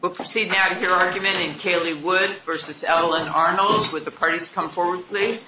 We'll proceed now to hear argument in Caleigh Wood v. Evelyn Arnold. Would the parties come forward, please?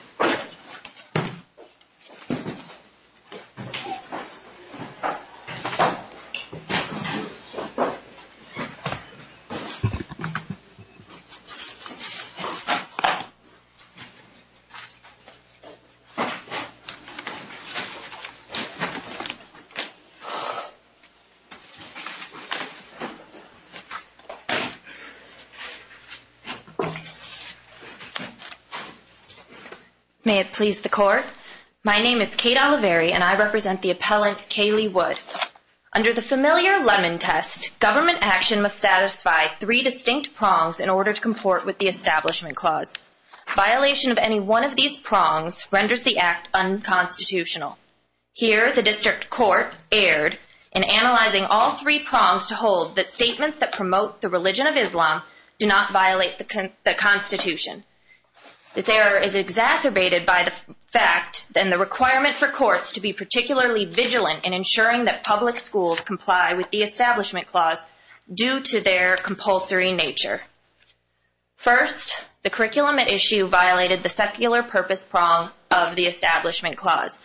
May it please the Court, my name is Kate Oliveri and I represent the appellant Caleigh Wood. Under the familiar Lemon Test, government action must satisfy three distinct prongs in order to comport with the Establishment Clause. Violation of any one of these prongs renders the act unconstitutional. Here, the District Court erred in analyzing all three prongs to hold that statements that promote the religion of Islam do not violate the Constitution. This error is exacerbated by the fact and the requirement for courts to be particularly vigilant in ensuring that public schools comply with the Establishment Clause due to their compulsory nature. First, the curriculum at issue violated the secular purpose prong of the Establishment Clause.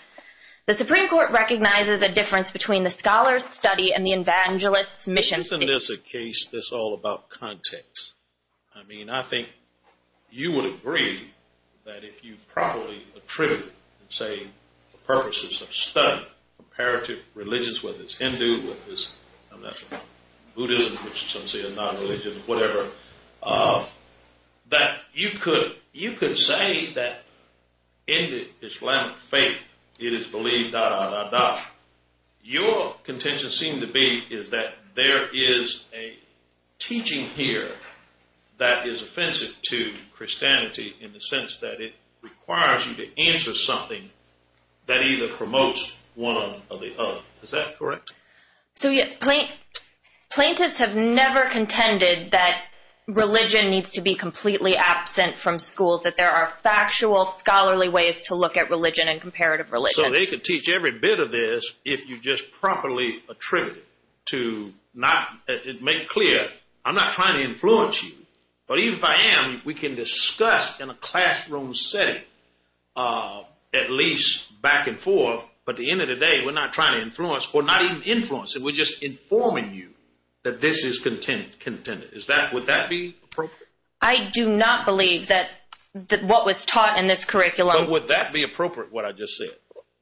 The Supreme Court recognizes the difference between the scholar's study and the evangelist's mission statement. Isn't this a case that's all about context? I mean, I think you would agree that if you properly attribute, say, the purposes of study, comparative religions, whether it's Hindu, whether it's Buddhism, which some say is not a religion, whatever, that you could say that in the Islamic faith, it is believed, da, da, da, da. Your contention seemed to be is that there is a teaching here that is offensive to Christianity in the sense that it requires you to answer something that either promotes one or the other. Is that correct? So, yes, plaintiffs have never contended that religion needs to be completely absent from schools, that there are factual, scholarly ways to look at religion and comparative religions. So they could teach every bit of this if you just properly attribute it to make it clear, I'm not trying to influence you, but even if I am, we can discuss in a classroom setting at least back and forth, but at the end of the day, we're not trying to influence or not even influence, we're just informing you that this is contended. Would that be appropriate? I do not believe that what was taught in this curriculum... But would that be appropriate, what I just said?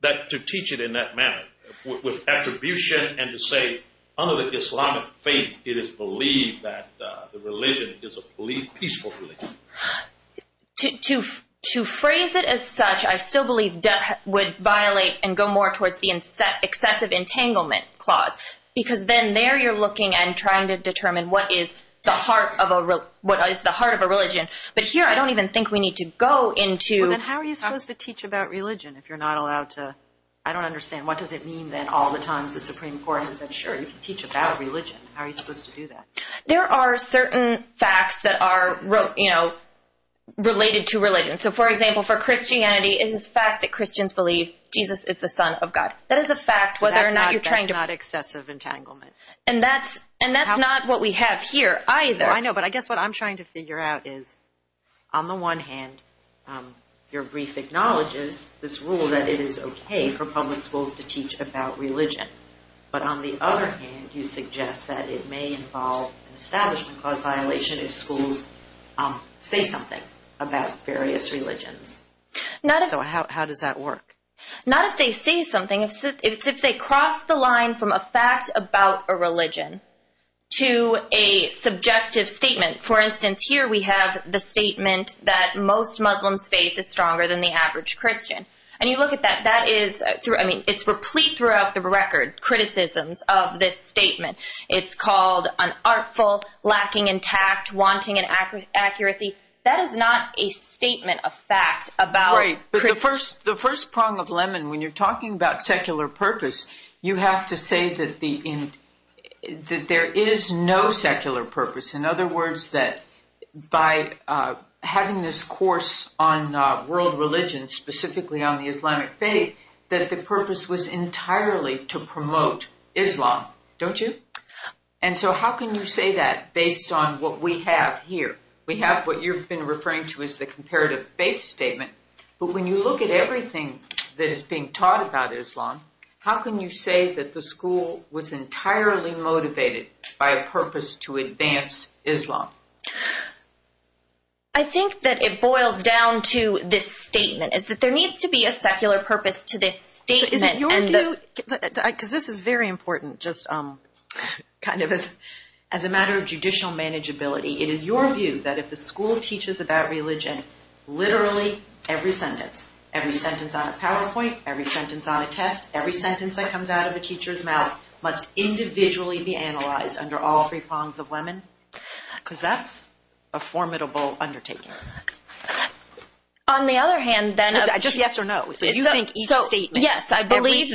That to teach it in that manner with attribution and to say, under the Islamic faith, it is believed that the religion is a peaceful religion. To phrase it as such, I still believe that would violate and go more towards the excessive entanglement clause, because then there you're looking and trying to determine what is the heart of a religion. But here, I don't even think we need to go into... Well, then how are you supposed to teach about religion if you're not allowed to... I don't understand, what does it mean that all the times the Supreme Court has said, sure, you can teach about religion, how are you supposed to do that? There are certain facts that are related to religion. So, for example, for Christianity, it is a fact that Christians believe Jesus is the son of God. That is a fact, but that's not excessive entanglement. And that's not what we have here either. I know, but I guess what I'm trying to figure out is, on the one hand, your brief acknowledges this rule that it is okay for public schools to teach about religion. But on the other hand, you suggest that it may involve an establishment clause violation if schools say something about various religions. So how does that work? Not if they say something, it's if they cross the line from a fact about a religion to a subjective statement. For instance, here we have the statement that most Muslims' faith is stronger than the average Christian. And you look at that, that is, I mean, it's replete throughout the record, criticisms of this statement. It's called unartful, lacking in tact, wanting an accuracy. That is not a statement of fact about... that the purpose was entirely to promote Islam, don't you? And so how can you say that based on what we have here? We have what you've been referring to as the comparative faith statement. But when you look at everything that is being taught about Islam, how can you say that the school was entirely motivated by a purpose to advance Islam? I think that it boils down to this statement, is that there needs to be a secular purpose to this statement. Because this is very important, just kind of as a matter of judicial manageability. It is your view that if the school teaches about religion, literally every sentence, every sentence on a PowerPoint, every sentence on a test, every sentence that comes out of a teacher's mouth must individually be analyzed under all three prongs of women? Because that's a formidable undertaking. On the other hand, then... Just yes or no. So you think each statement... Yes, I believe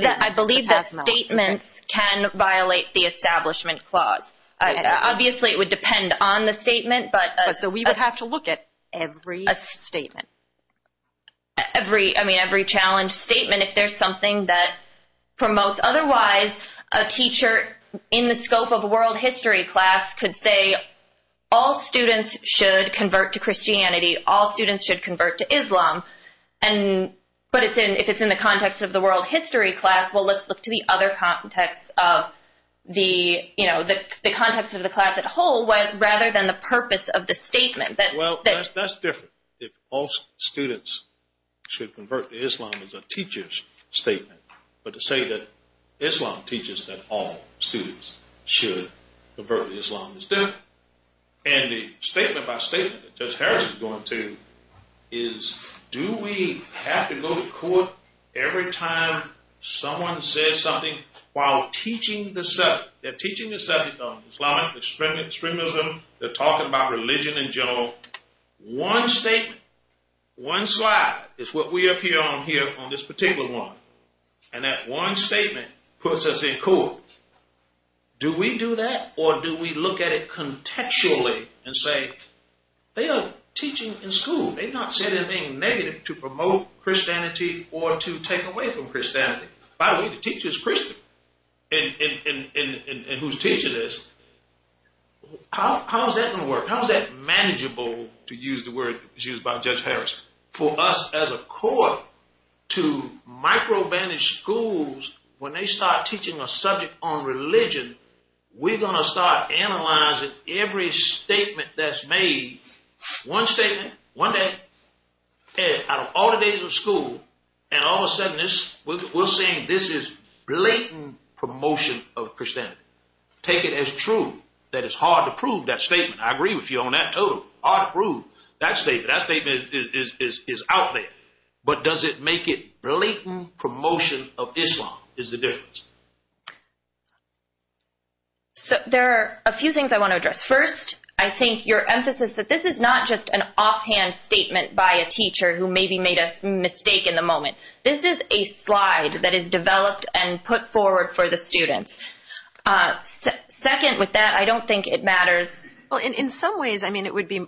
that statements can violate the Establishment Clause. Obviously, it would depend on the statement, but... So we would have to look at every statement. Every, I mean, every challenge statement, if there's something that promotes... All students should convert to Christianity. All students should convert to Islam. But if it's in the context of the world history class, well, let's look to the other context of the, you know, the context of the class at whole, rather than the purpose of the statement. Well, that's different. If all students should convert to Islam is a teacher's statement. But to say that Islam teaches that all students should convert to Islam is different. And the statement by statement that Judge Harris is going to is, do we have to go to court every time someone says something while teaching the subject? They're teaching the subject of Islam, extremism, they're talking about religion in general. One statement, one slide is what we appear on here on this particular one. And that one statement puts us in court. Do we do that or do we look at it contextually and say, they are teaching in school. They've not said anything negative to promote Christianity or to take away from Christianity. By the way, the teacher is Christian. And who's teaching this. How is that going to work? How is that manageable, to use the word used by Judge Harris, for us as a court to micro bandage schools when they start teaching a subject on religion. We're going to start analyzing every statement that's made. One statement, one day, out of all the days of school, and all of a sudden we're saying this is blatant promotion of Christianity. Take it as true. That it's hard to prove that statement. I agree with you on that. Totally hard to prove that statement. That statement is out there. But does it make it blatant promotion of Islam is the difference. So there are a few things I want to address. First, I think your emphasis that this is not just an offhand statement by a teacher who maybe made a mistake in the moment. This is a slide that is developed and put forward for the students. Second, with that, I don't think it matters. Well, in some ways, I mean, it would be...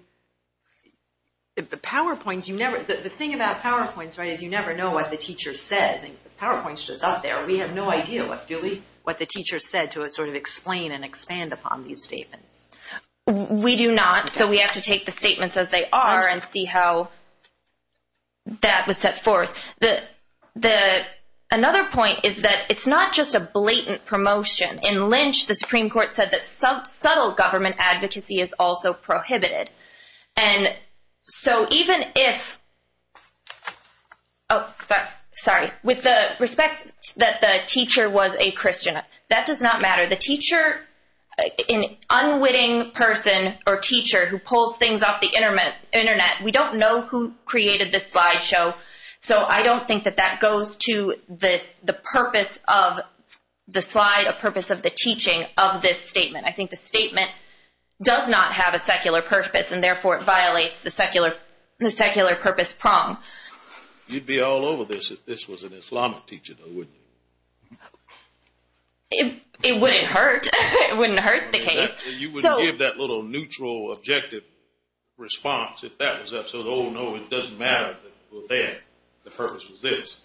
The PowerPoints, you never... The thing about PowerPoints, right, is you never know what the teacher says. PowerPoints are out there. We have no idea what the teacher said to sort of explain and expand upon these statements. We do not, so we have to take the statements as they are and see how that was set forth. Another point is that it's not just a blatant promotion. In Lynch, the Supreme Court said that subtle government advocacy is also prohibited. And so even if... Oh, sorry. With the respect that the teacher was a Christian, that does not matter. The teacher, an unwitting person or teacher who pulls things off the Internet, we don't know who created this slideshow. So I don't think that that goes to the purpose of the slide, a purpose of the teaching of this statement. I think the statement does not have a secular purpose, and therefore, it violates the secular purpose prong. You'd be all over this if this was an Islamic teacher, though, wouldn't you? It wouldn't hurt. It wouldn't hurt the case. You wouldn't give that little neutral objective response if that was up. So, oh, no, it doesn't matter. The purpose was this.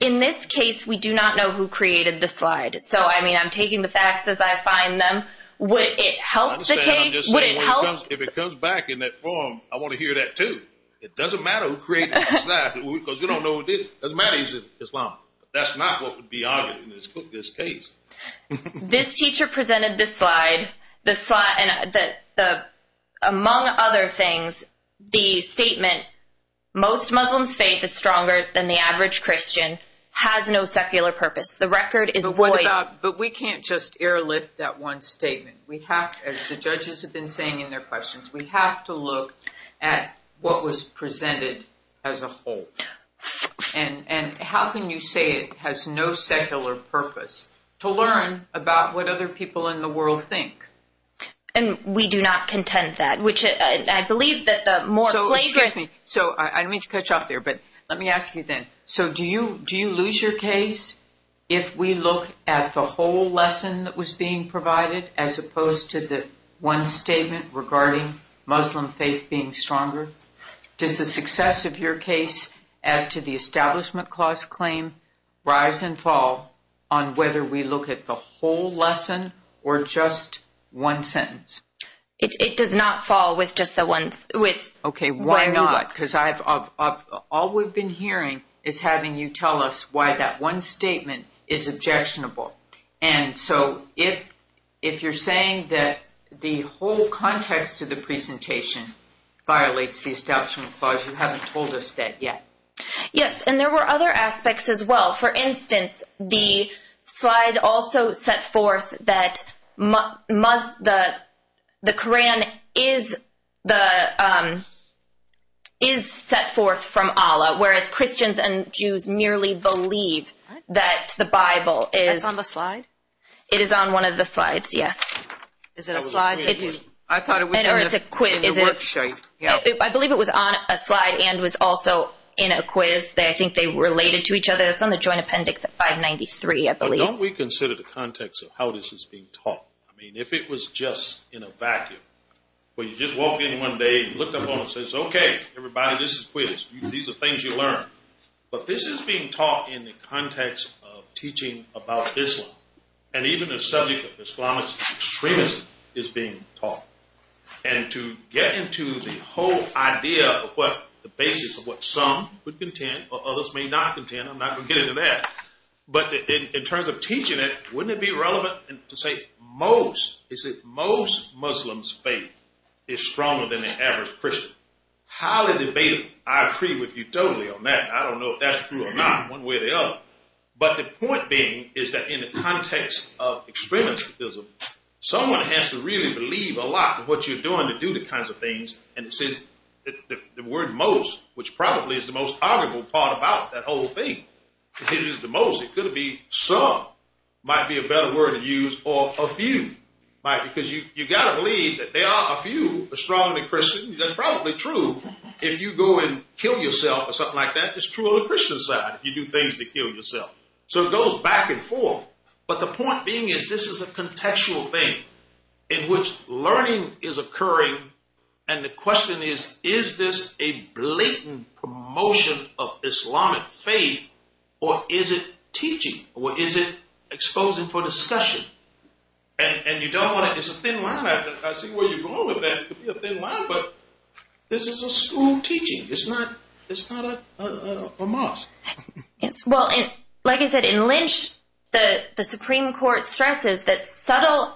In this case, we do not know who created the slide. So, I mean, I'm taking the facts as I find them. Would it help the case? Would it help? If it comes back in that form, I want to hear that, too. It doesn't matter who created the slide because you don't know who did it. It doesn't matter if he's Islamic. That's not what would be argued in this case. This teacher presented this slide. Among other things, the statement, most Muslims' faith is stronger than the average Christian, has no secular purpose. The record is void. But we can't just airlift that one statement. We have, as the judges have been saying in their questions, we have to look at what was presented as a whole. And how can you say it has no secular purpose? To learn about what other people in the world think. And we do not contend that, which I believe that the more plagiarism. So, excuse me. So, I didn't mean to cut you off there, but let me ask you then. So, do you lose your case if we look at the whole lesson that was being provided as opposed to the one statement regarding Muslim faith being stronger? Does the success of your case as to the Establishment Clause claim rise and fall on whether we look at the whole lesson or just one sentence? It does not fall with just the one. Okay, why not? Because all we've been hearing is having you tell us why that one statement is objectionable. And so, if you're saying that the whole context of the presentation violates the Establishment Clause, you haven't told us that yet. Yes, and there were other aspects as well. For instance, the slide also set forth that the Koran is set forth from Allah. Whereas, Christians and Jews merely believe that the Bible is- That's on the slide? It is on one of the slides, yes. Is it a slide? I thought it was in the work show. I believe it was on a slide and was also in a quiz. I think they related to each other. It's on the Joint Appendix at 593, I believe. Don't we consider the context of how this is being taught? I mean, if it was just in a vacuum, where you just walk in one day and looked up on them and said, okay, everybody, this is quiz. These are things you learn. But this is being taught in the context of teaching about Islam. And even the subject of Islamist extremism is being taught. And to get into the whole idea of what the basis of what some would contend or others may not contend, I'm not going to get into that. But in terms of teaching it, wouldn't it be relevant to say most Muslims' faith is stronger than the average Christian? Highly debatable. I agree with you totally on that. I don't know if that's true or not one way or the other. But the point being is that in the context of extremism, someone has to really believe a lot of what you're doing to do the kinds of things. And the word most, which probably is the most arguable part about that whole thing, it is the most. It could be some. It might be a better word to use or a few. Because you've got to believe that there are a few strongly Christian. That's probably true. If you go and kill yourself or something like that, it's true on the Christian side. You do things to kill yourself. So it goes back and forth. But the point being is this is a contextual thing in which learning is occurring. And the question is, is this a blatant promotion of Islamic faith or is it teaching or is it exposing for discussion? And you don't want to – it's a thin line. I see where you're going with that. It could be a thin line. But this is a school teaching. It's not a mosque. Well, like I said, in Lynch, the Supreme Court stresses that subtle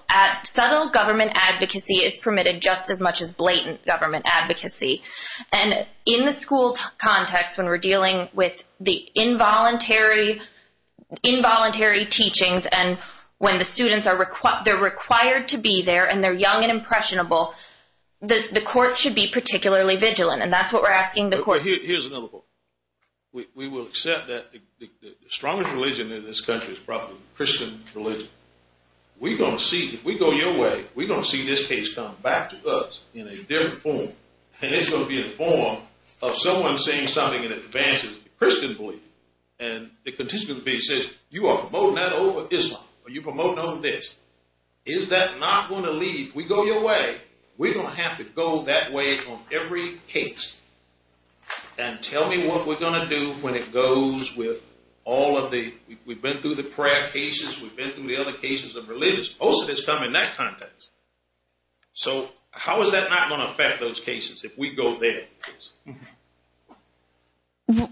government advocacy is permitted just as much as blatant government advocacy. And in the school context when we're dealing with the involuntary teachings and when the students are – they're required to be there and they're young and impressionable, the courts should be particularly vigilant. And that's what we're asking the court. Here's another point. We will accept that the strongest religion in this country is probably the Christian religion. We're going to see – if we go your way, we're going to see this case come back to us in a different form. And it's going to be in the form of someone saying something in advance of the Christian belief. And it continues to be said, you are promoting that over Islam or you're promoting over this. Is that not going to lead – if we go your way, we're going to have to go that way on every case and tell me what we're going to do when it goes with all of the – we've been through religious, we've been through the other cases of religious. Most of this come in that context. So how is that not going to affect those cases if we go there? Again,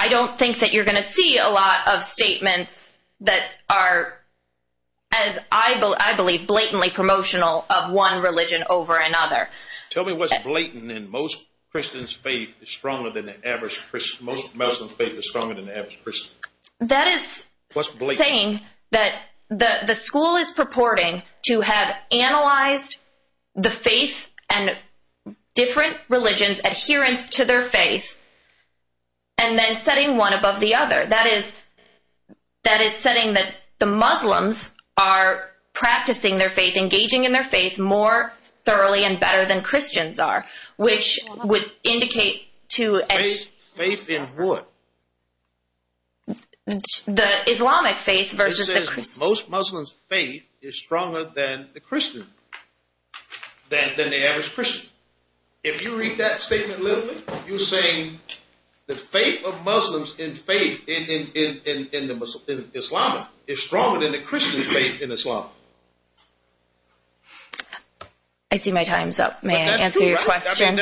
I don't think that you're going to see a lot of statements that are, as I believe, blatantly promotional of one religion over another. Tell me what's blatant in most Christians' faith is stronger than the average – most Muslims' faith is stronger than the average Christian. That is saying that the school is purporting to have analyzed the faith and different religions' adherence to their faith and then setting one above the other. That is setting that the Muslims are practicing their faith, engaging in their faith more thoroughly and better than Christians are, which would indicate to – Indicate faith in what? The Islamic faith versus the Christian. It says most Muslims' faith is stronger than the Christian – than the average Christian. If you read that statement literally, you're saying the faith of Muslims in Islam is stronger than the Christian faith in Islam. I see my time's up. May I answer your question?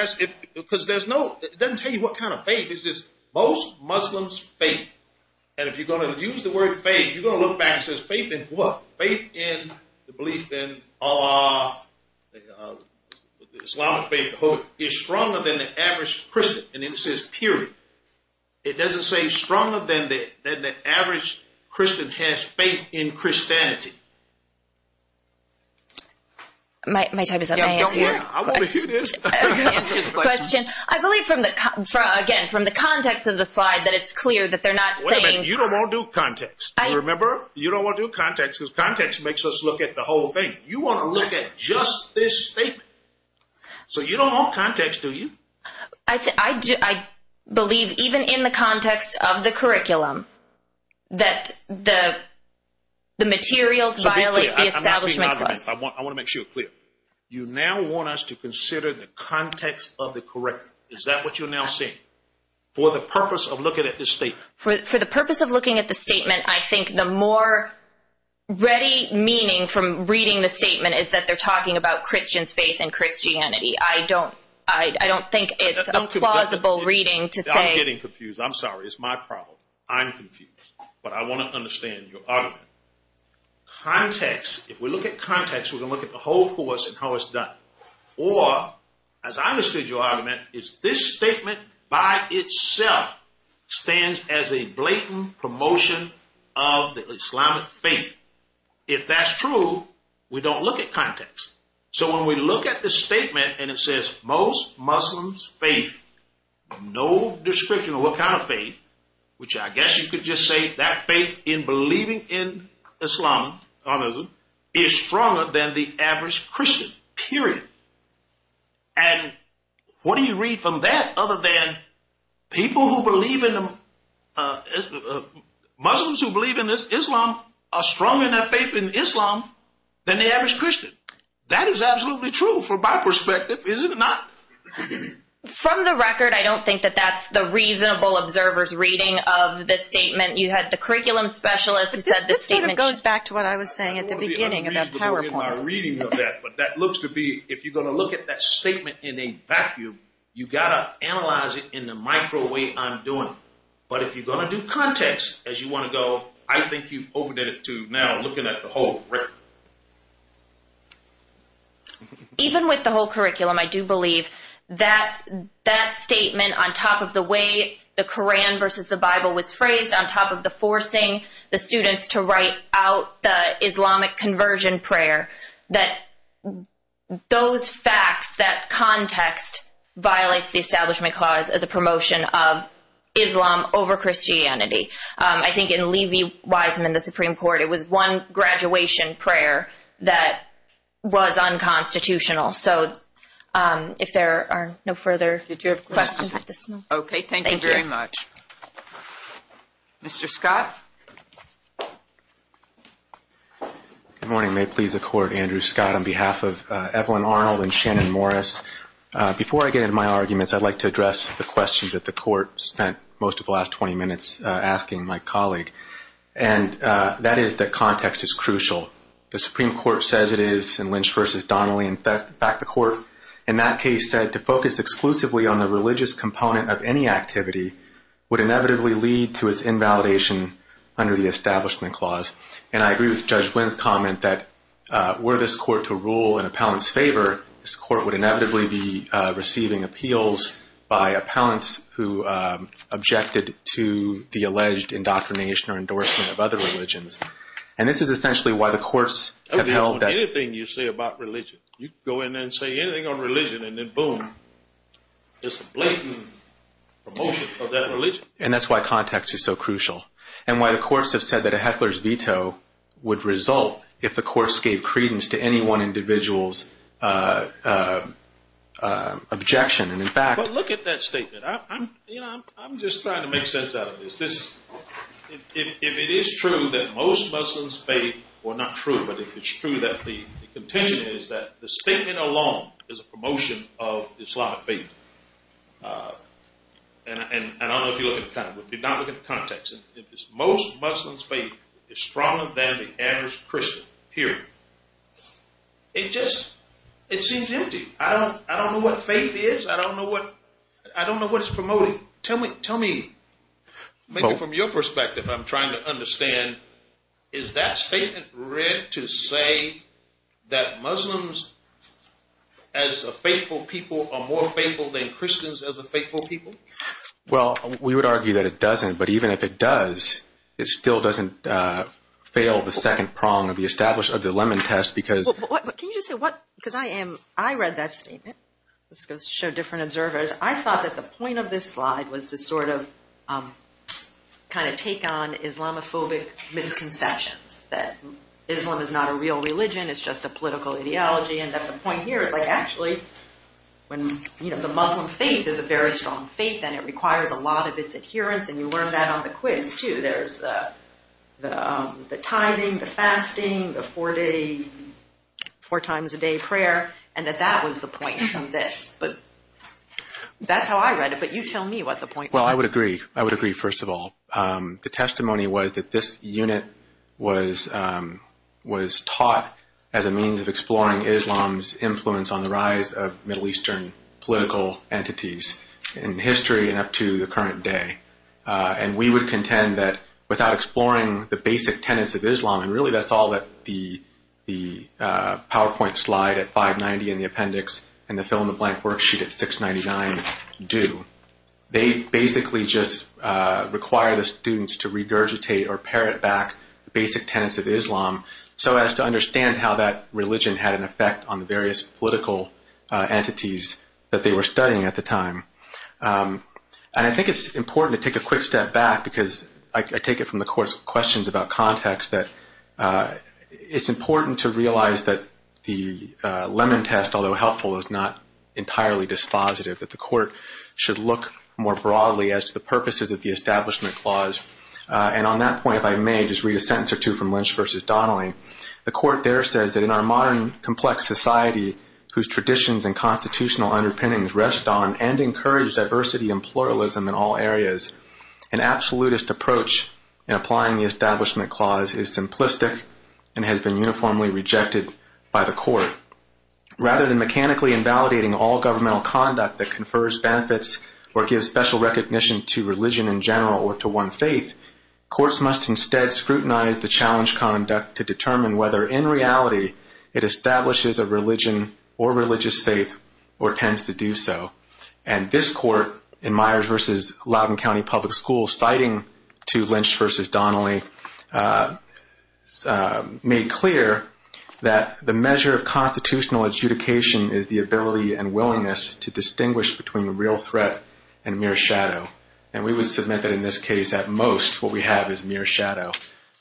Because there's no – it doesn't tell you what kind of faith. It's just most Muslims' faith. And if you're going to use the word faith, you're going to look back and it says faith in what? Faith in the belief in the Islamic faith is stronger than the average Christian. And then it says period. It doesn't say stronger than the average Christian has faith in Christianity. Let me answer the question. I believe from the – again, from the context of the slide that it's clear that they're not saying – Wait a minute. You don't want to do context. Remember? You don't want to do context because context makes us look at the whole thing. You want to look at just this statement. So you don't want context, do you? I believe even in the context of the curriculum that the materials violate the Establishment Clause. I want to make sure you're clear. You now want us to consider the context of the curriculum. Is that what you're now saying for the purpose of looking at this statement? For the purpose of looking at the statement, I think the more ready meaning from reading the statement is that they're talking about Christians' faith in Christianity. I don't think it's a plausible reading to say – I'm getting confused. I'm sorry. It's my problem. I'm confused. But I want to understand your argument. Context. If we look at context, we're going to look at the whole course and how it's done. Or, as I understood your argument, is this statement by itself stands as a blatant promotion of the Islamic faith. If that's true, we don't look at context. So when we look at this statement and it says most Muslims' faith, no description of what kind of faith, which I guess you could just say that faith in believing in Islam is stronger than the average Christian, period. And what do you read from that other than people who believe in – Muslims who believe in Islam are stronger in their faith in Islam than the average Christian. That is absolutely true from my perspective, is it not? From the record, I don't think that that's the reasonable observer's reading of the statement. You had the curriculum specialist who said the statement – This sort of goes back to what I was saying at the beginning about PowerPoints. But that looks to be – if you're going to look at that statement in a vacuum, you've got to analyze it in the micro way I'm doing it. But if you're going to do context as you want to go, I think you've overdid it to now looking at the whole curriculum. Even with the whole curriculum, I do believe that statement on top of the way the Koran versus the Bible was phrased, on top of the forcing the students to write out the Islamic conversion prayer, that those facts, that context, violates the establishment clause as a promotion of Islam over Christianity. I think in Levi-Weisman, the Supreme Court, it was one graduation prayer that was unconstitutional. So if there are no further questions at this moment – Okay, thank you very much. Thank you. Mr. Scott? Good morning. May it please the Court, Andrew Scott. On behalf of Evelyn Arnold and Shannon Morris, before I get into my arguments, I'd like to address the questions that the Court spent most of the last 20 minutes asking my colleague. And that is that context is crucial. The Supreme Court says it is in Lynch versus Donnelly. In fact, the Court in that case said to focus exclusively on the religious component of any activity would inevitably lead to its invalidation under the establishment clause. And I agree with Judge Wynn's comment that were this Court to rule in appellant's favor, this Court would inevitably be receiving appeals by appellants who objected to the alleged indoctrination or endorsement of other religions. And this is essentially why the Courts have held that – Anything you say about religion, you can go in there and say anything on religion and then boom, there's a blatant promotion of that religion. And that's why context is so crucial and why the Courts have said that a heckler's veto would result if the Courts gave credence to any one individual's objection. But look at that statement. I'm just trying to make sense out of this. If it is true that most Muslims faith – well, not true, but if it's true that the contention is that the statement alone is a promotion of Islamic faith, and I don't know if you're looking at context. If you're not looking at context, if it's most Muslims faith is stronger than the average Christian, period. It just – it seems empty. I don't know what faith is. I don't know what – I don't know what it's promoting. Tell me, maybe from your perspective, I'm trying to understand. Is that statement read to say that Muslims as a faithful people are more faithful than Christians as a faithful people? Well, we would argue that it doesn't, but even if it does, it still doesn't fail the second prong of the establishment of the Lemon Test because – Can you just say what – because I am – I read that statement. Let's go show different observers. I thought that the point of this slide was to sort of kind of take on Islamophobic misconceptions, that Islam is not a real religion, it's just a political ideology, and that the point here is, like, actually, when – you know, the Muslim faith is a very strong faith, and it requires a lot of its adherence, and you learned that on the quiz, too. There's the tithing, the fasting, the four-day – four-times-a-day prayer, and that that was the point of this. But that's how I read it, but you tell me what the point was. Well, I would agree. I would agree, first of all. The testimony was that this unit was taught as a means of exploring Islam's influence on the rise of Middle Eastern political entities in history and up to the current day, and we would contend that without exploring the basic tenets of Islam – and really, that's all that the PowerPoint slide at 590 in the appendix and the fill-in-the-blank worksheet at 699 do. They basically just require the students to regurgitate or parrot back the basic tenets of Islam so as to understand how that religion had an effect on the various political entities that they were studying at the time. And I think it's important to take a quick step back, because I take it from the Court's questions about context, that it's important to realize that the Lemon Test, although helpful, is not entirely dispositive, that the Court should look more broadly as to the purposes of the Establishment Clause. And on that point, if I may, just read a sentence or two from Lynch v. Donnelly. The Court there says that, "...in our modern, complex society, whose traditions and constitutional underpinnings rest on and encourage diversity and pluralism in all areas, an absolutist approach in applying the Establishment Clause is simplistic and has been uniformly rejected by the Court. Rather than mechanically invalidating all governmental conduct that confers benefits or gives special recognition to religion in general or to one faith, courts must instead scrutinize the challenged conduct to determine whether in reality it establishes a religion or religious faith or tends to do so." And this Court, in Myers v. Loudoun County Public Schools, citing to Lynch v. Donnelly, made clear that the measure of constitutional adjudication is the ability and willingness to distinguish between real threat and mere shadow. And we would submit that in this case, at most, what we have is mere shadow.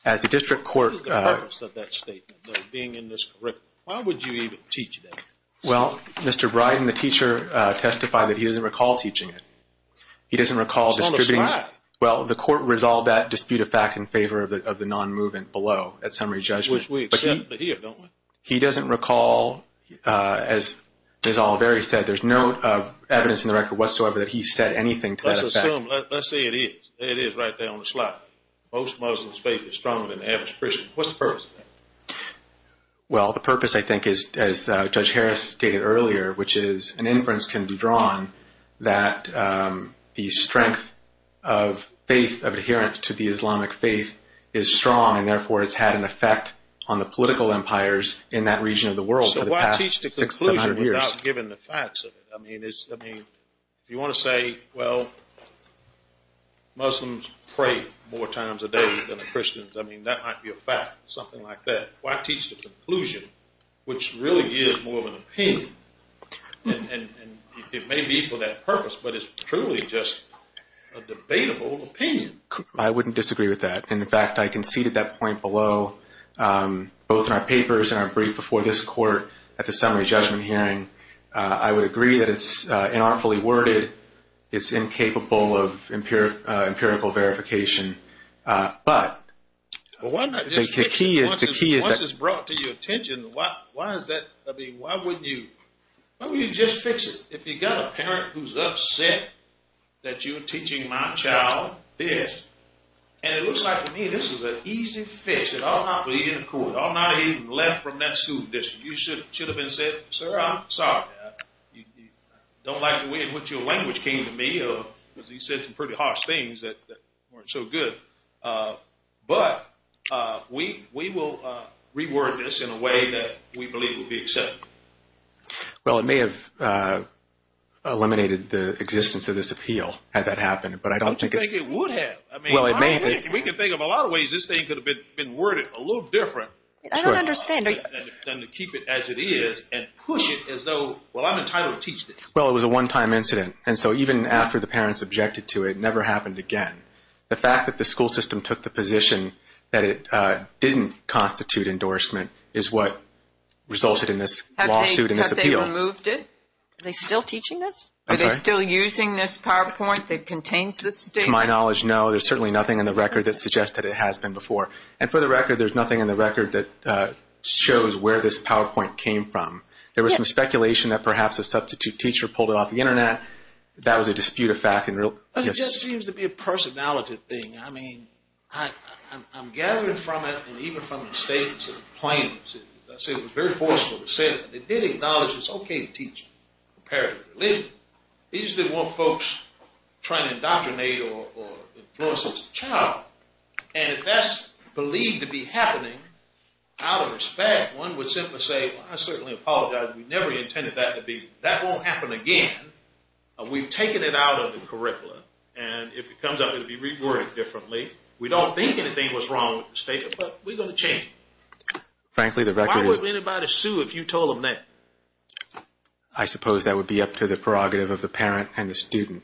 What is the purpose of that statement, though, being in this curriculum? Why would you even teach that? Well, Mr. Bryden, the teacher, testified that he doesn't recall teaching it. He doesn't recall distributing it. It's on the slide. Well, the Court resolved that dispute of fact in favor of the non-movement below at summary judgment. Which we accept to hear, don't we? He doesn't recall, as Ms. Oliveri said, there's no evidence in the record whatsoever that he said anything to that effect. Let's assume. Let's say it is. It is right there on the slide. Most Muslims' faith is stronger than the average Christian. What's the purpose of that? Well, the purpose, I think, as Judge Harris stated earlier, which is an inference can be drawn that the strength of faith, of adherence to the Islamic faith, is strong and, therefore, it's had an effect on the political empires in that region of the world for the past 600, 700 years. So why teach the conclusion without giving the facts of it? I mean, if you want to say, well, Muslims pray more times a day than the Christians, I mean, that might be a fact, something like that. Why teach the conclusion, which really is more of an opinion? And it may be for that purpose, but it's truly just a debatable opinion. I wouldn't disagree with that. And, in fact, I conceded that point below, both in our papers and our brief before this Court at the summary judgment hearing. I would agree that it's inartfully worded. It's incapable of empirical verification. But the key is that... Well, why not just fix it once it's brought to your attention? Why is that? I mean, why wouldn't you just fix it? If you've got a parent who's upset that you're teaching my child this, and it looks like to me this is an easy fix. It ought not be in the Court. It ought not have even left from that school district. You should have said, sir, I'm sorry. I don't like the way in which your language came to me, because you said some pretty harsh things that weren't so good. But we will reword this in a way that we believe would be acceptable. Well, it may have eliminated the existence of this appeal had that happened, but I don't think... Don't you think it would have? I mean, we can think of a lot of ways this thing could have been worded a little different. I don't understand. To keep it as it is and push it as though, well, I'm entitled to teach this. Well, it was a one-time incident, and so even after the parents objected to it, it never happened again. The fact that the school system took the position that it didn't constitute endorsement is what resulted in this lawsuit and this appeal. Have they removed it? Are they still teaching this? I'm sorry? Are they still using this PowerPoint that contains this statement? To my knowledge, no. There's certainly nothing in the record that suggests that it has been before. And for the record, there's nothing in the record that shows where this PowerPoint came from. There was some speculation that perhaps a substitute teacher pulled it off the Internet. That was a dispute of fact. It just seems to be a personality thing. I mean, I'm gathering from it and even from the statements and the plaintiffs, as I said, it was very forceful. They did acknowledge it's okay to teach a parent a religion. They usually want folks trying to indoctrinate or influence as a child. And if that's believed to be happening, out of respect, one would simply say, well, I certainly apologize. We never intended that to be. That won't happen again. We've taken it out of the curriculum. And if it comes up, it will be reworded differently. We don't think anything was wrong with the statement, but we're going to change it. Frankly, the record is. Why would anybody sue if you told them that? I suppose that would be up to the prerogative of the parent and the student.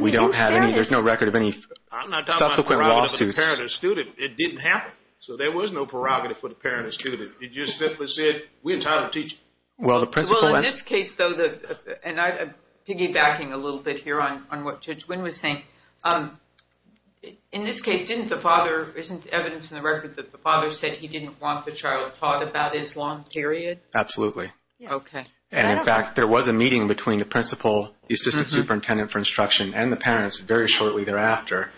We don't have any. There's no record of any subsequent lawsuits. I'm not talking about the prerogative of the parent or student. It didn't happen. So there was no prerogative for the parent or student. It just simply said, we're tired of teaching. Well, in this case, though, and I'm piggybacking a little bit here on what Judge Wynn was saying. In this case, isn't evidence in the record that the father said he didn't want the child taught about Islam, period? Absolutely. Okay. And, in fact, there was a meeting between the principal, the assistant superintendent for instruction, and the parents very shortly thereafter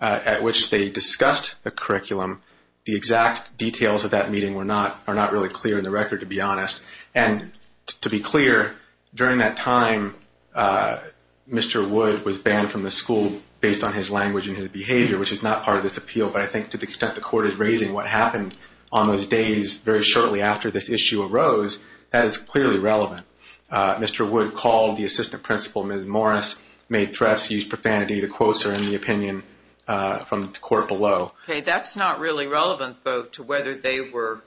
at which they discussed the curriculum. The exact details of that meeting are not really clear in the record, to be honest. And to be clear, during that time, Mr. Wood was banned from the school based on his language and his behavior, which is not part of this appeal. But I think to the extent the court is raising what happened on those days very shortly after this issue arose, that is clearly relevant. Mr. Wood called the assistant principal, Ms. Morris, made threats, used profanity. The quotes are in the opinion from the court below. Okay. That's not really relevant, though, to whether they were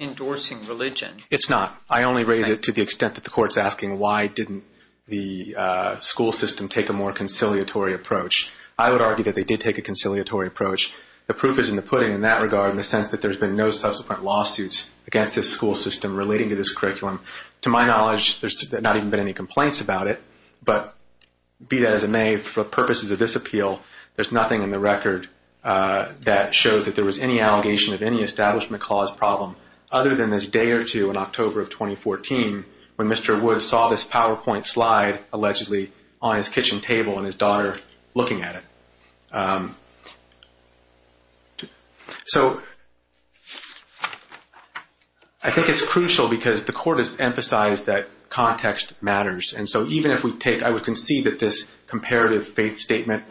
endorsing religion. It's not. I only raise it to the extent that the court is asking why didn't the school system take a more conciliatory approach. I would argue that they did take a conciliatory approach. The proof is in the pudding in that regard in the sense that there's been no subsequent lawsuits against this school system relating to this curriculum. To my knowledge, there's not even been any complaints about it. But be that as it may, for purposes of this appeal, there's nothing in the record that shows that there was any allegation of any establishment clause problem other than this day or two in October of 2014 when Mr. Wood saw this PowerPoint slide allegedly on his kitchen table and his daughter looking at it. So I think it's crucial because the court has emphasized that context matters. And so even if we take – I would concede that this comparative faith statement,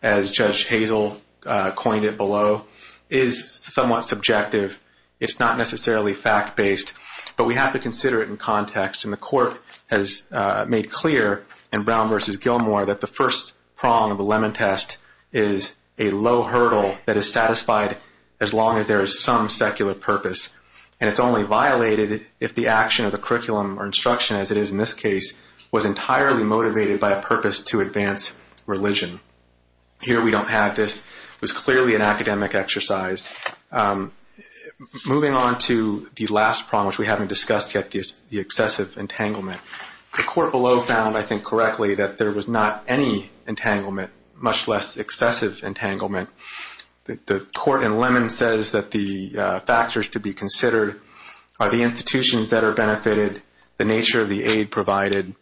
as Judge Hazel coined it below, is somewhat subjective. It's not necessarily fact-based. But we have to consider it in context. And the court has made clear in Brown v. Gilmore that the first prong of the lemon test is a low hurdle that is satisfied as long as there is some secular purpose. And it's only violated if the action of the curriculum or instruction, as it is in this case, was entirely motivated by a purpose to advance religion. Here we don't have this. It was clearly an academic exercise. Moving on to the last prong, which we haven't discussed yet, the excessive entanglement. The court below found, I think correctly, that there was not any entanglement, much less excessive entanglement. The court in lemon says that the factors to be considered are the institutions that are benefited, the nature of the aid provided,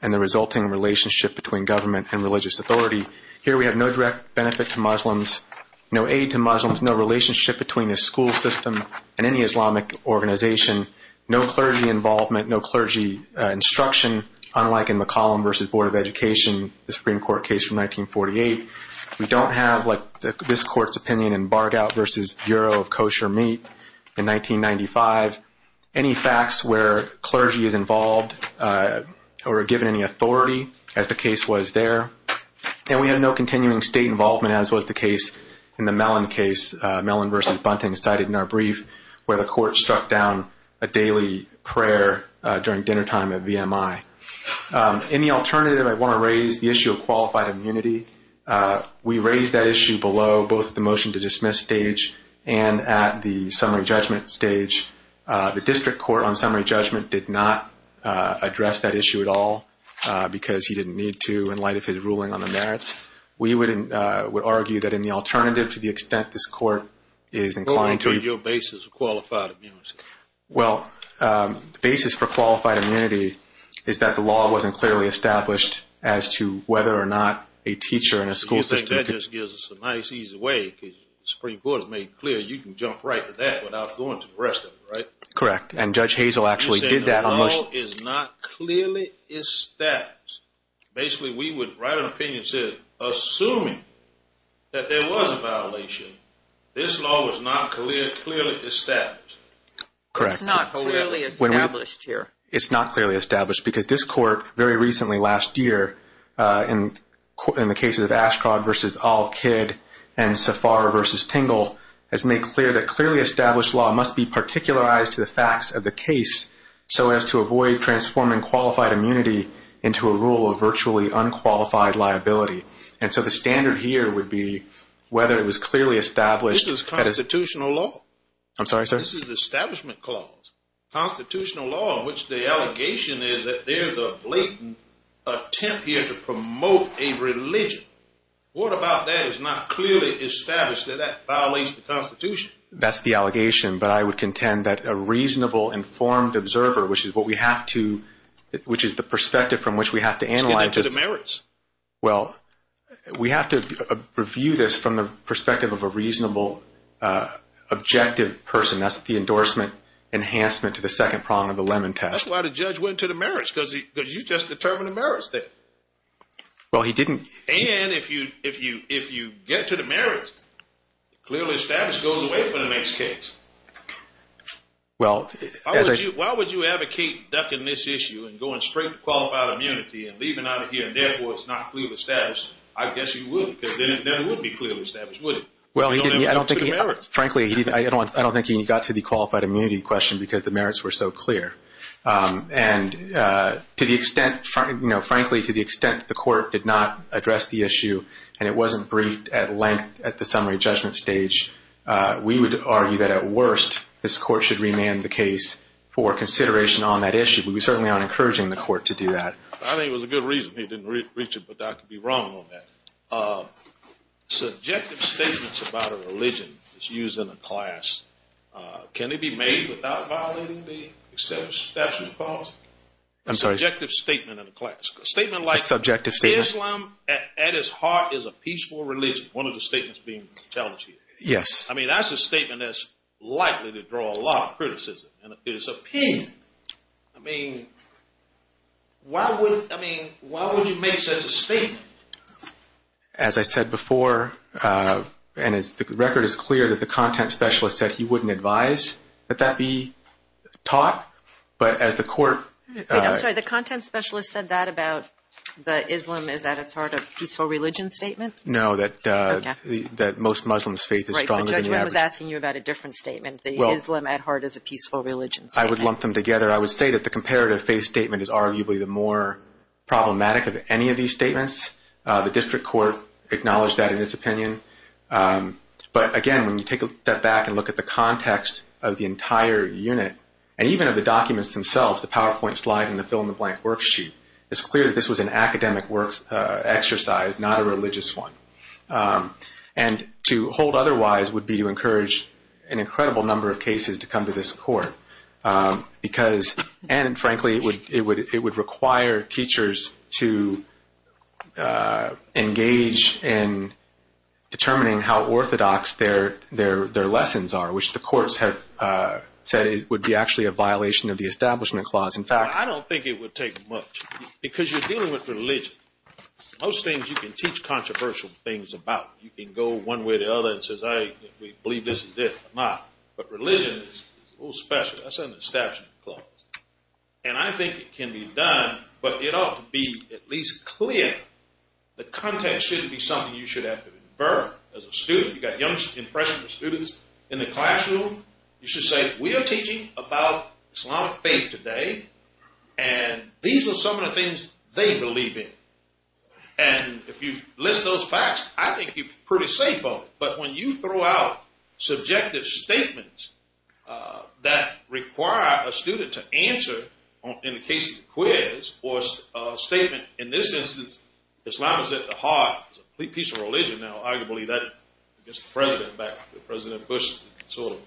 and the resulting relationship between government and religious authority. Here we have no direct benefit to Muslims, no aid to Muslims, no relationship between the school system and any Islamic organization, no clergy involvement, no clergy instruction, unlike in McCollum v. Board of Education, the Supreme Court case from 1948. We don't have this court's opinion in Bargout v. Bureau of Kosher Meat in 1995. Any facts where clergy is involved or given any authority, as the case was there. And we have no continuing state involvement, as was the case in the Mellon case, Mellon v. Bunting, cited in our brief, where the court struck down a daily prayer during dinnertime at VMI. In the alternative, I want to raise the issue of qualified immunity. We raised that issue below both the motion to dismiss stage and at the summary judgment stage. The district court on summary judgment did not address that issue at all, because he didn't need to in light of his ruling on the merits. We would argue that in the alternative, to the extent this court is inclined to... What would be your basis for qualified immunity? Well, the basis for qualified immunity is that the law wasn't clearly established as to whether or not a teacher in a school system could... You think that just gives us a nice easy way, because the Supreme Court has made clear you can jump right to that without going to the rest of it, right? Correct. And Judge Hazel actually did that on motion. You're saying the law is not clearly established. Basically, we would write an opinion and say, assuming that there was a violation, this law was not clearly established. Correct. It's not clearly established here. In the cases of Ashcroft v. Allkid and Safar v. Tingle, it's made clear that clearly established law must be particularized to the facts of the case so as to avoid transforming qualified immunity into a rule of virtually unqualified liability. And so the standard here would be whether it was clearly established... This is constitutional law. I'm sorry, sir? This is the establishment clause. Constitutional law in which the allegation is that there's a blatant attempt here to promote a religion. What about that is not clearly established, that that violates the Constitution? That's the allegation, but I would contend that a reasonable, informed observer, which is what we have to... which is the perspective from which we have to analyze... It's connected to the merits. Well, we have to review this from the perspective of a reasonable, objective person. That's the endorsement enhancement to the second prong of the Lemon Test. That's why the judge went to the merits because you just determined the merits there. Well, he didn't... And if you get to the merits, clearly established goes away for the next case. Well, as I... Why would you advocate ducking this issue and going straight to qualified immunity and leaving out of here and therefore it's not clearly established? I guess you would because then it wouldn't be clearly established, would it? Well, I don't think he... Frankly, I don't think he got to the qualified immunity question because the merits were so clear. And to the extent... Frankly, to the extent the court did not address the issue and it wasn't briefed at length at the summary judgment stage, we would argue that at worst this court should remand the case for consideration on that issue. We certainly aren't encouraging the court to do that. I think it was a good reason he didn't reach it, but I could be wrong on that. Subjective statements about a religion is used in a class. Can it be made without violating the establishment policy? I'm sorry. Subjective statement in a class. A statement like... A subjective statement. ...Islam at its heart is a peaceful religion, one of the statements being challenged here. Yes. I mean, that's a statement that's likely to draw a lot of criticism. I mean, why would you make such a statement? As I said before, and the record is clear that the content specialist said he wouldn't advise that that be taught. But as the court... Wait, I'm sorry. The content specialist said that about the Islam is at its heart a peaceful religion statement? No, that most Muslims' faith is stronger than the average. Right, but Judge Wren was asking you about a different statement. The Islam at heart is a peaceful religion statement. I would lump them together. I would say that the comparative faith statement is arguably the more problematic of any of these statements. The district court acknowledged that in its opinion. But, again, when you take a step back and look at the context of the entire unit, and even of the documents themselves, the PowerPoint slide and the fill-in-the-blank worksheet, it's clear that this was an academic exercise, not a religious one. And to hold otherwise would be to encourage an incredible number of cases to come to this court. And, frankly, it would require teachers to engage in determining how orthodox their lessons are, which the courts have said would be actually a violation of the Establishment Clause. In fact... I don't think it would take much because you're dealing with religion. Most things you can teach controversial things about. You can go one way or the other and say, I believe this is this or not. But religion is a little special. That's under the Establishment Clause. And I think it can be done, but it ought to be at least clear. The context shouldn't be something you should have to infer as a student. You've got young impressionable students in the classroom. You should say, we are teaching about Islamic faith today, and these are some of the things they believe in. And if you list those facts, I think you're pretty safe on it. But when you throw out subjective statements that require a student to answer, in the case of the quiz, or a statement, in this instance, Islam is at the heart, it's a complete piece of religion. Now, arguably, that gets the president back. President Bush sort of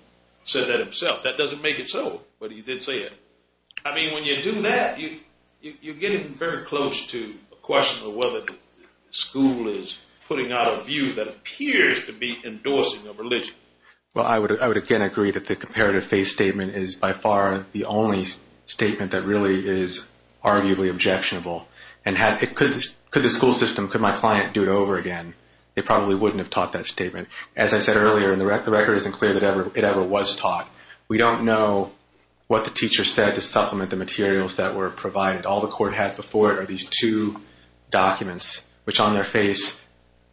said that himself. That doesn't make it so, but he did say it. I mean, when you do that, you're getting very close to a question of whether the school is putting out a view that appears to be endorsing a religion. Well, I would again agree that the comparative faith statement is by far the only statement that really is arguably objectionable. And could the school system, could my client do it over again? They probably wouldn't have taught that statement. As I said earlier, the record isn't clear that it ever was taught. We don't know what the teacher said to supplement the materials that were provided. All the court has before it are these two documents, which on their face,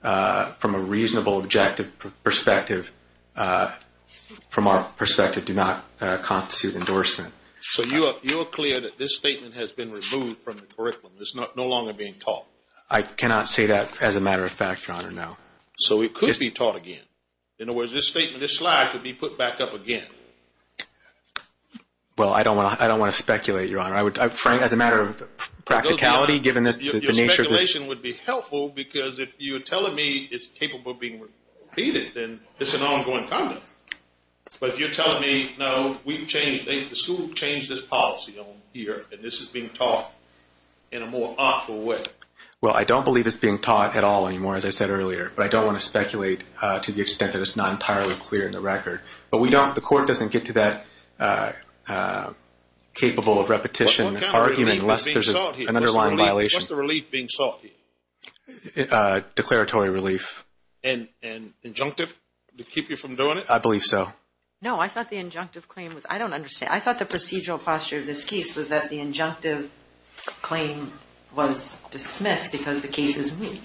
from a reasonable objective perspective, from our perspective, do not constitute endorsement. So you're clear that this statement has been removed from the curriculum? It's no longer being taught? I cannot say that as a matter of fact, Your Honor, no. So it could be taught again. In other words, this statement, this slide could be put back up again. Well, I don't want to speculate, Your Honor. As a matter of practicality, given the nature of this. Your speculation would be helpful because if you're telling me it's capable of being repeated, then it's an ongoing conduct. But if you're telling me, no, the school changed its policy on here and this is being taught in a more awful way. Well, I don't believe it's being taught at all anymore, as I said earlier. But I don't want to speculate to the extent that it's not entirely clear in the record. But the court doesn't get to that capable of repetition argument unless there's an underlying violation. What's the relief being sought here? Declaratory relief. And injunctive to keep you from doing it? I believe so. No, I thought the injunctive claim was – I don't understand. I thought the procedural posture of this case was that the injunctive claim was dismissed because the case is weak.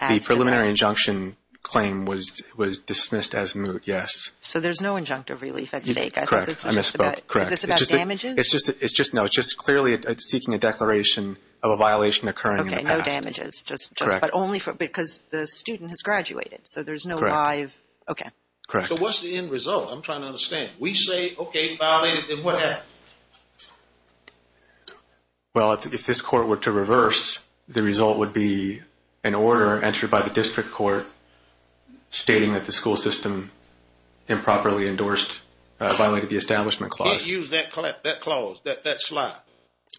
The preliminary injunction claim was dismissed as moot, yes. So there's no injunctive relief at stake. Correct. I misspoke. Is this about damages? No, it's just clearly seeking a declaration of a violation occurring in the past. Okay, no damages. Correct. But only because the student has graduated. Correct. So there's no live – okay. Correct. So what's the end result? I'm trying to understand. We say, okay, violated, then what happens? Well, if this court were to reverse, the result would be an order entered by the district court stating that the school system improperly endorsed – violated the establishment clause. Can't use that clause, that slot.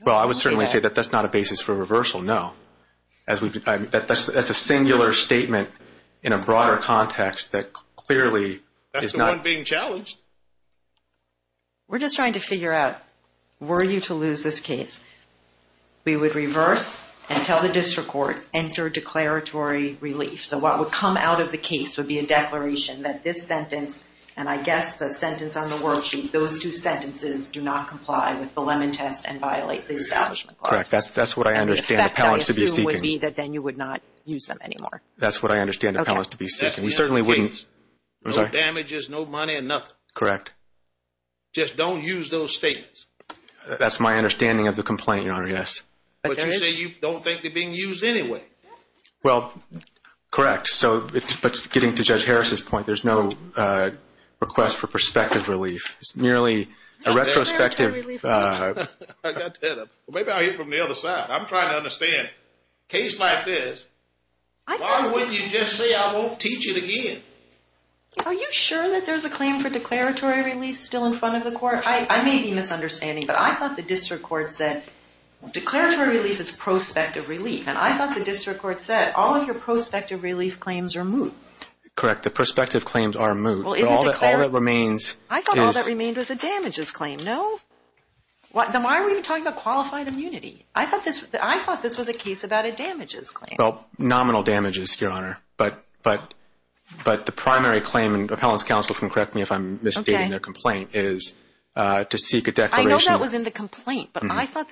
Well, I would certainly say that that's not a basis for reversal, no. That's a singular statement in a broader context that clearly is not – That's the one being challenged. We're just trying to figure out, were you to lose this case, we would reverse and tell the district court, enter declaratory relief. So what would come out of the case would be a declaration that this sentence, and I guess the sentence on the worksheet, those two sentences do not comply with the Lemon Test and violate the establishment clause. Correct. That's what I understand the appellants to be seeking. And the effect, I assume, would be that then you would not use them anymore. That's what I understand the appellants to be seeking. Okay. Correct. Just don't use those statements. That's my understanding of the complaint, Your Honor, yes. But you say you don't think they're being used anyway. Well, correct. But getting to Judge Harris' point, there's no request for prospective relief. It's merely a retrospective – I got that. Maybe I'll hear it from the other side. I'm trying to understand. A case like this, why wouldn't you just say I won't teach it again? Are you sure that there's a claim for declaratory relief still in front of the court? I may be misunderstanding, but I thought the district court said declaratory relief is prospective relief, and I thought the district court said all of your prospective relief claims are moot. Correct. The prospective claims are moot. But all that remains is – I thought all that remained was a damages claim, no? Then why are we even talking about qualified immunity? I thought this was a case about a damages claim. Well, nominal damages, Your Honor. But the primary claim, and appellant's counsel can correct me if I'm misstating their complaint, is to seek a declaration. I know that was in the complaint, but I thought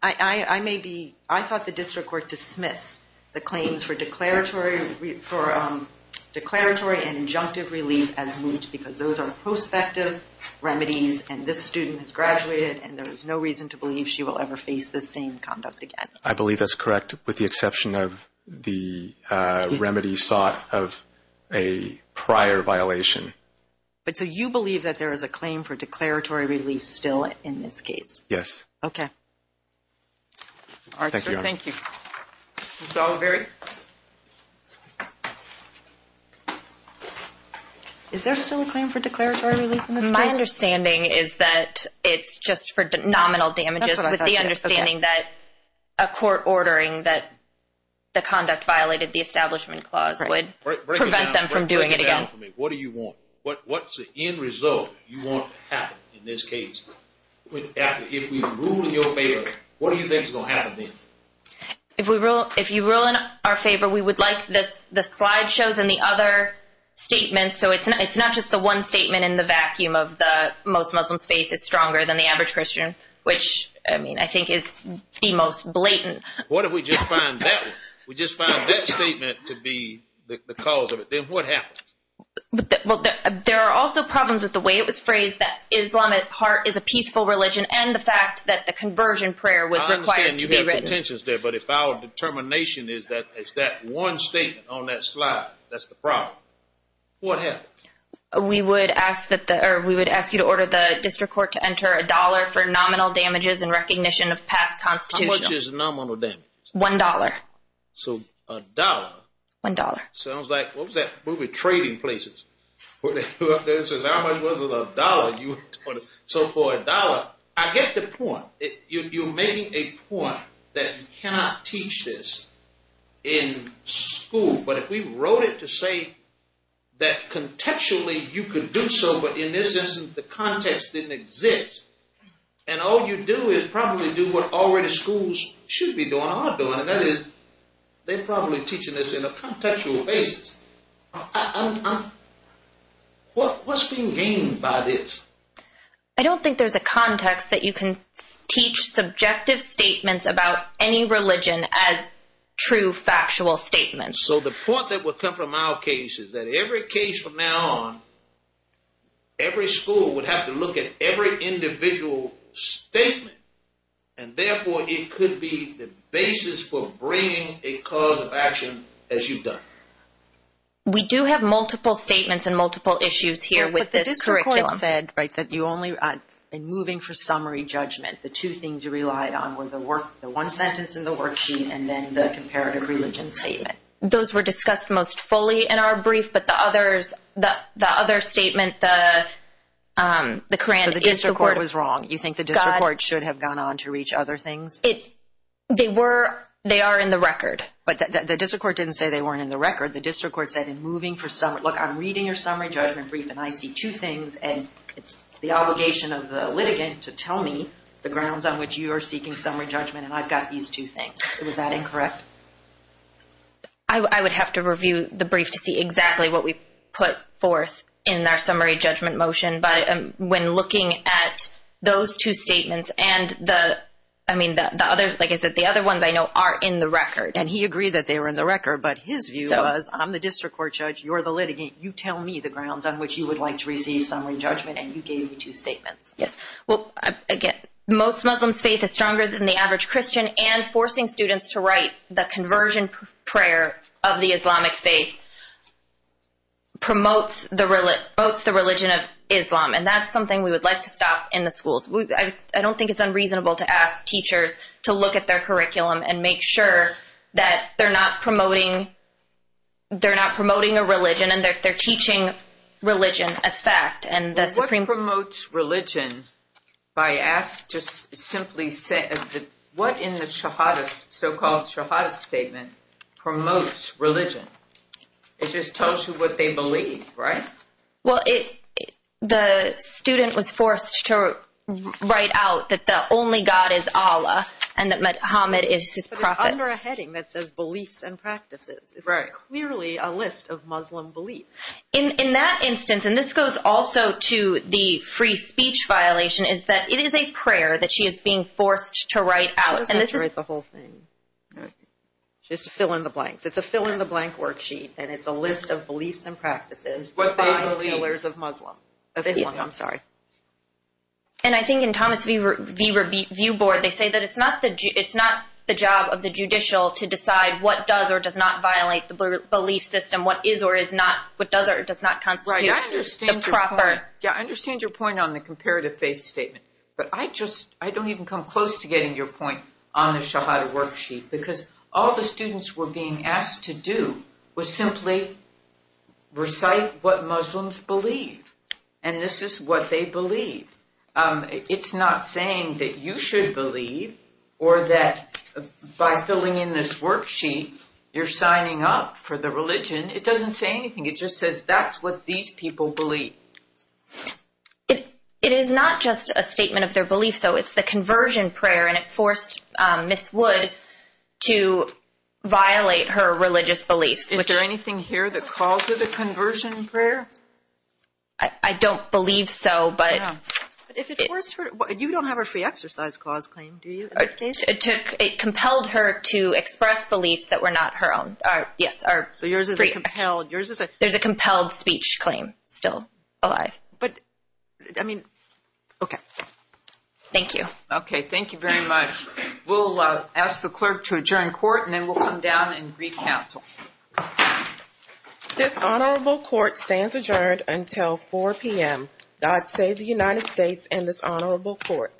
the district court dismissed the claims for declaratory and injunctive relief as moot because those are prospective remedies, and this student has graduated, and there is no reason to believe she will ever face this same conduct again. I believe that's correct with the exception of the remedy sought of a prior violation. So you believe that there is a claim for declaratory relief still in this case? Yes. Okay. Thank you, Your Honor. Thank you. Is there still a claim for declaratory relief in this case? My understanding is that it's just for nominal damages with the understanding that a court ordering that the conduct violated the establishment clause would prevent them from doing it again. Break it down for me. What do you want? What's the end result you want to have in this case? If we rule in your favor, what do you think is going to happen then? If you rule in our favor, we would like the slide shows and the other statements, so it's not just the one statement in the vacuum of most Muslims' faith is stronger than the average Christian, which I think is the most blatant. What if we just find that one? We just find that statement to be the cause of it. Then what happens? Well, there are also problems with the way it was phrased, that Islam at heart is a peaceful religion, and the fact that the conversion prayer was required to be written. The intention is there, but if our determination is that it's that one statement on that slide, that's the problem. What happens? We would ask you to order the district court to enter a dollar for nominal damages in recognition of past constitutional. How much is nominal damages? One dollar. So a dollar? One dollar. Sounds like, what was that movie, Trading Places, where they go up there and says, So for a dollar, I get the point. You're making a point that you cannot teach this in school, but if we wrote it to say that contextually you could do so, but in this instance the context didn't exist, and all you do is probably do what already schools should be doing or are doing, and that is they're probably teaching this in a contextual basis. What's being gained by this? I don't think there's a context that you can teach subjective statements about any religion as true factual statements. So the point that would come from our case is that every case from now on, every school would have to look at every individual statement, and therefore it could be the basis for bringing a cause of action as you've done. We do have multiple statements and multiple issues here with this curriculum. But the district court said that you only, in moving for summary judgment, the two things you relied on were the one sentence in the worksheet and then the comparative religion statement. Those were discussed most fully in our brief, but the other statement, the grant is the court. So the district court was wrong. You think the district court should have gone on to reach other things? They were, they are in the record. But the district court didn't say they weren't in the record. The district court said in moving for summary, look, I'm reading your summary judgment brief, and I see two things, and it's the obligation of the litigant to tell me the grounds on which you are seeking summary judgment, and I've got these two things. Was that incorrect? I would have to review the brief to see exactly what we put forth in our summary judgment motion. But when looking at those two statements and the, I mean, the other, like I said, the other ones I know are in the record. And he agreed that they were in the record, but his view was, I'm the district court judge, you're the litigant, you tell me the grounds on which you would like to receive summary judgment, and you gave me two statements. Yes. Well, again, most Muslims' faith is stronger than the average Christian, and forcing students to write the conversion prayer of the Islamic faith promotes the religion of Islam, and that's something we would like to stop in the schools. I don't think it's unreasonable to ask teachers to look at their curriculum and make sure that they're not promoting a religion and they're teaching religion as fact. What promotes religion, if I ask just simply, what in the so-called shahadah statement promotes religion? It just tells you what they believe, right? Well, the student was forced to write out that the only God is Allah and that Muhammad is his prophet. But it's under a heading that says beliefs and practices. Right. It's clearly a list of Muslim beliefs. In that instance, and this goes also to the free speech violation, is that it is a prayer that she is being forced to write out. She doesn't have to write the whole thing. She has to fill in the blanks. It's a fill-in-the-blank worksheet, and it's a list of beliefs and practices. What they believe. The five pillars of Islam. Of Islam, I'm sorry. And I think in Thomas V. View Board, they say that it's not the job of the judicial to decide what does or does not violate the belief system, what is or is not, what does or does not constitute the proper. Yeah, I understand your point on the comparative faith statement, but I don't even come close to getting your point on the shahadah worksheet because all the students were being asked to do was simply recite what Muslims believe, and this is what they believe. It's not saying that you should believe or that by filling in this worksheet, you're signing up for the religion. It doesn't say anything. It just says that's what these people believe. It is not just a statement of their belief, though. It's the conversion prayer, and it forced Ms. Wood to violate her religious beliefs. Is there anything here that calls for the conversion prayer? I don't believe so. You don't have a free exercise clause claim, do you? It compelled her to express beliefs that were not her own. So yours is a compelled. There's a compelled speech claim still alive. I mean, okay. Thank you. Okay, thank you very much. We'll ask the clerk to adjourn court, and then we'll come down and recouncil. This honorable court stands adjourned until 4 p.m. God save the United States and this honorable court.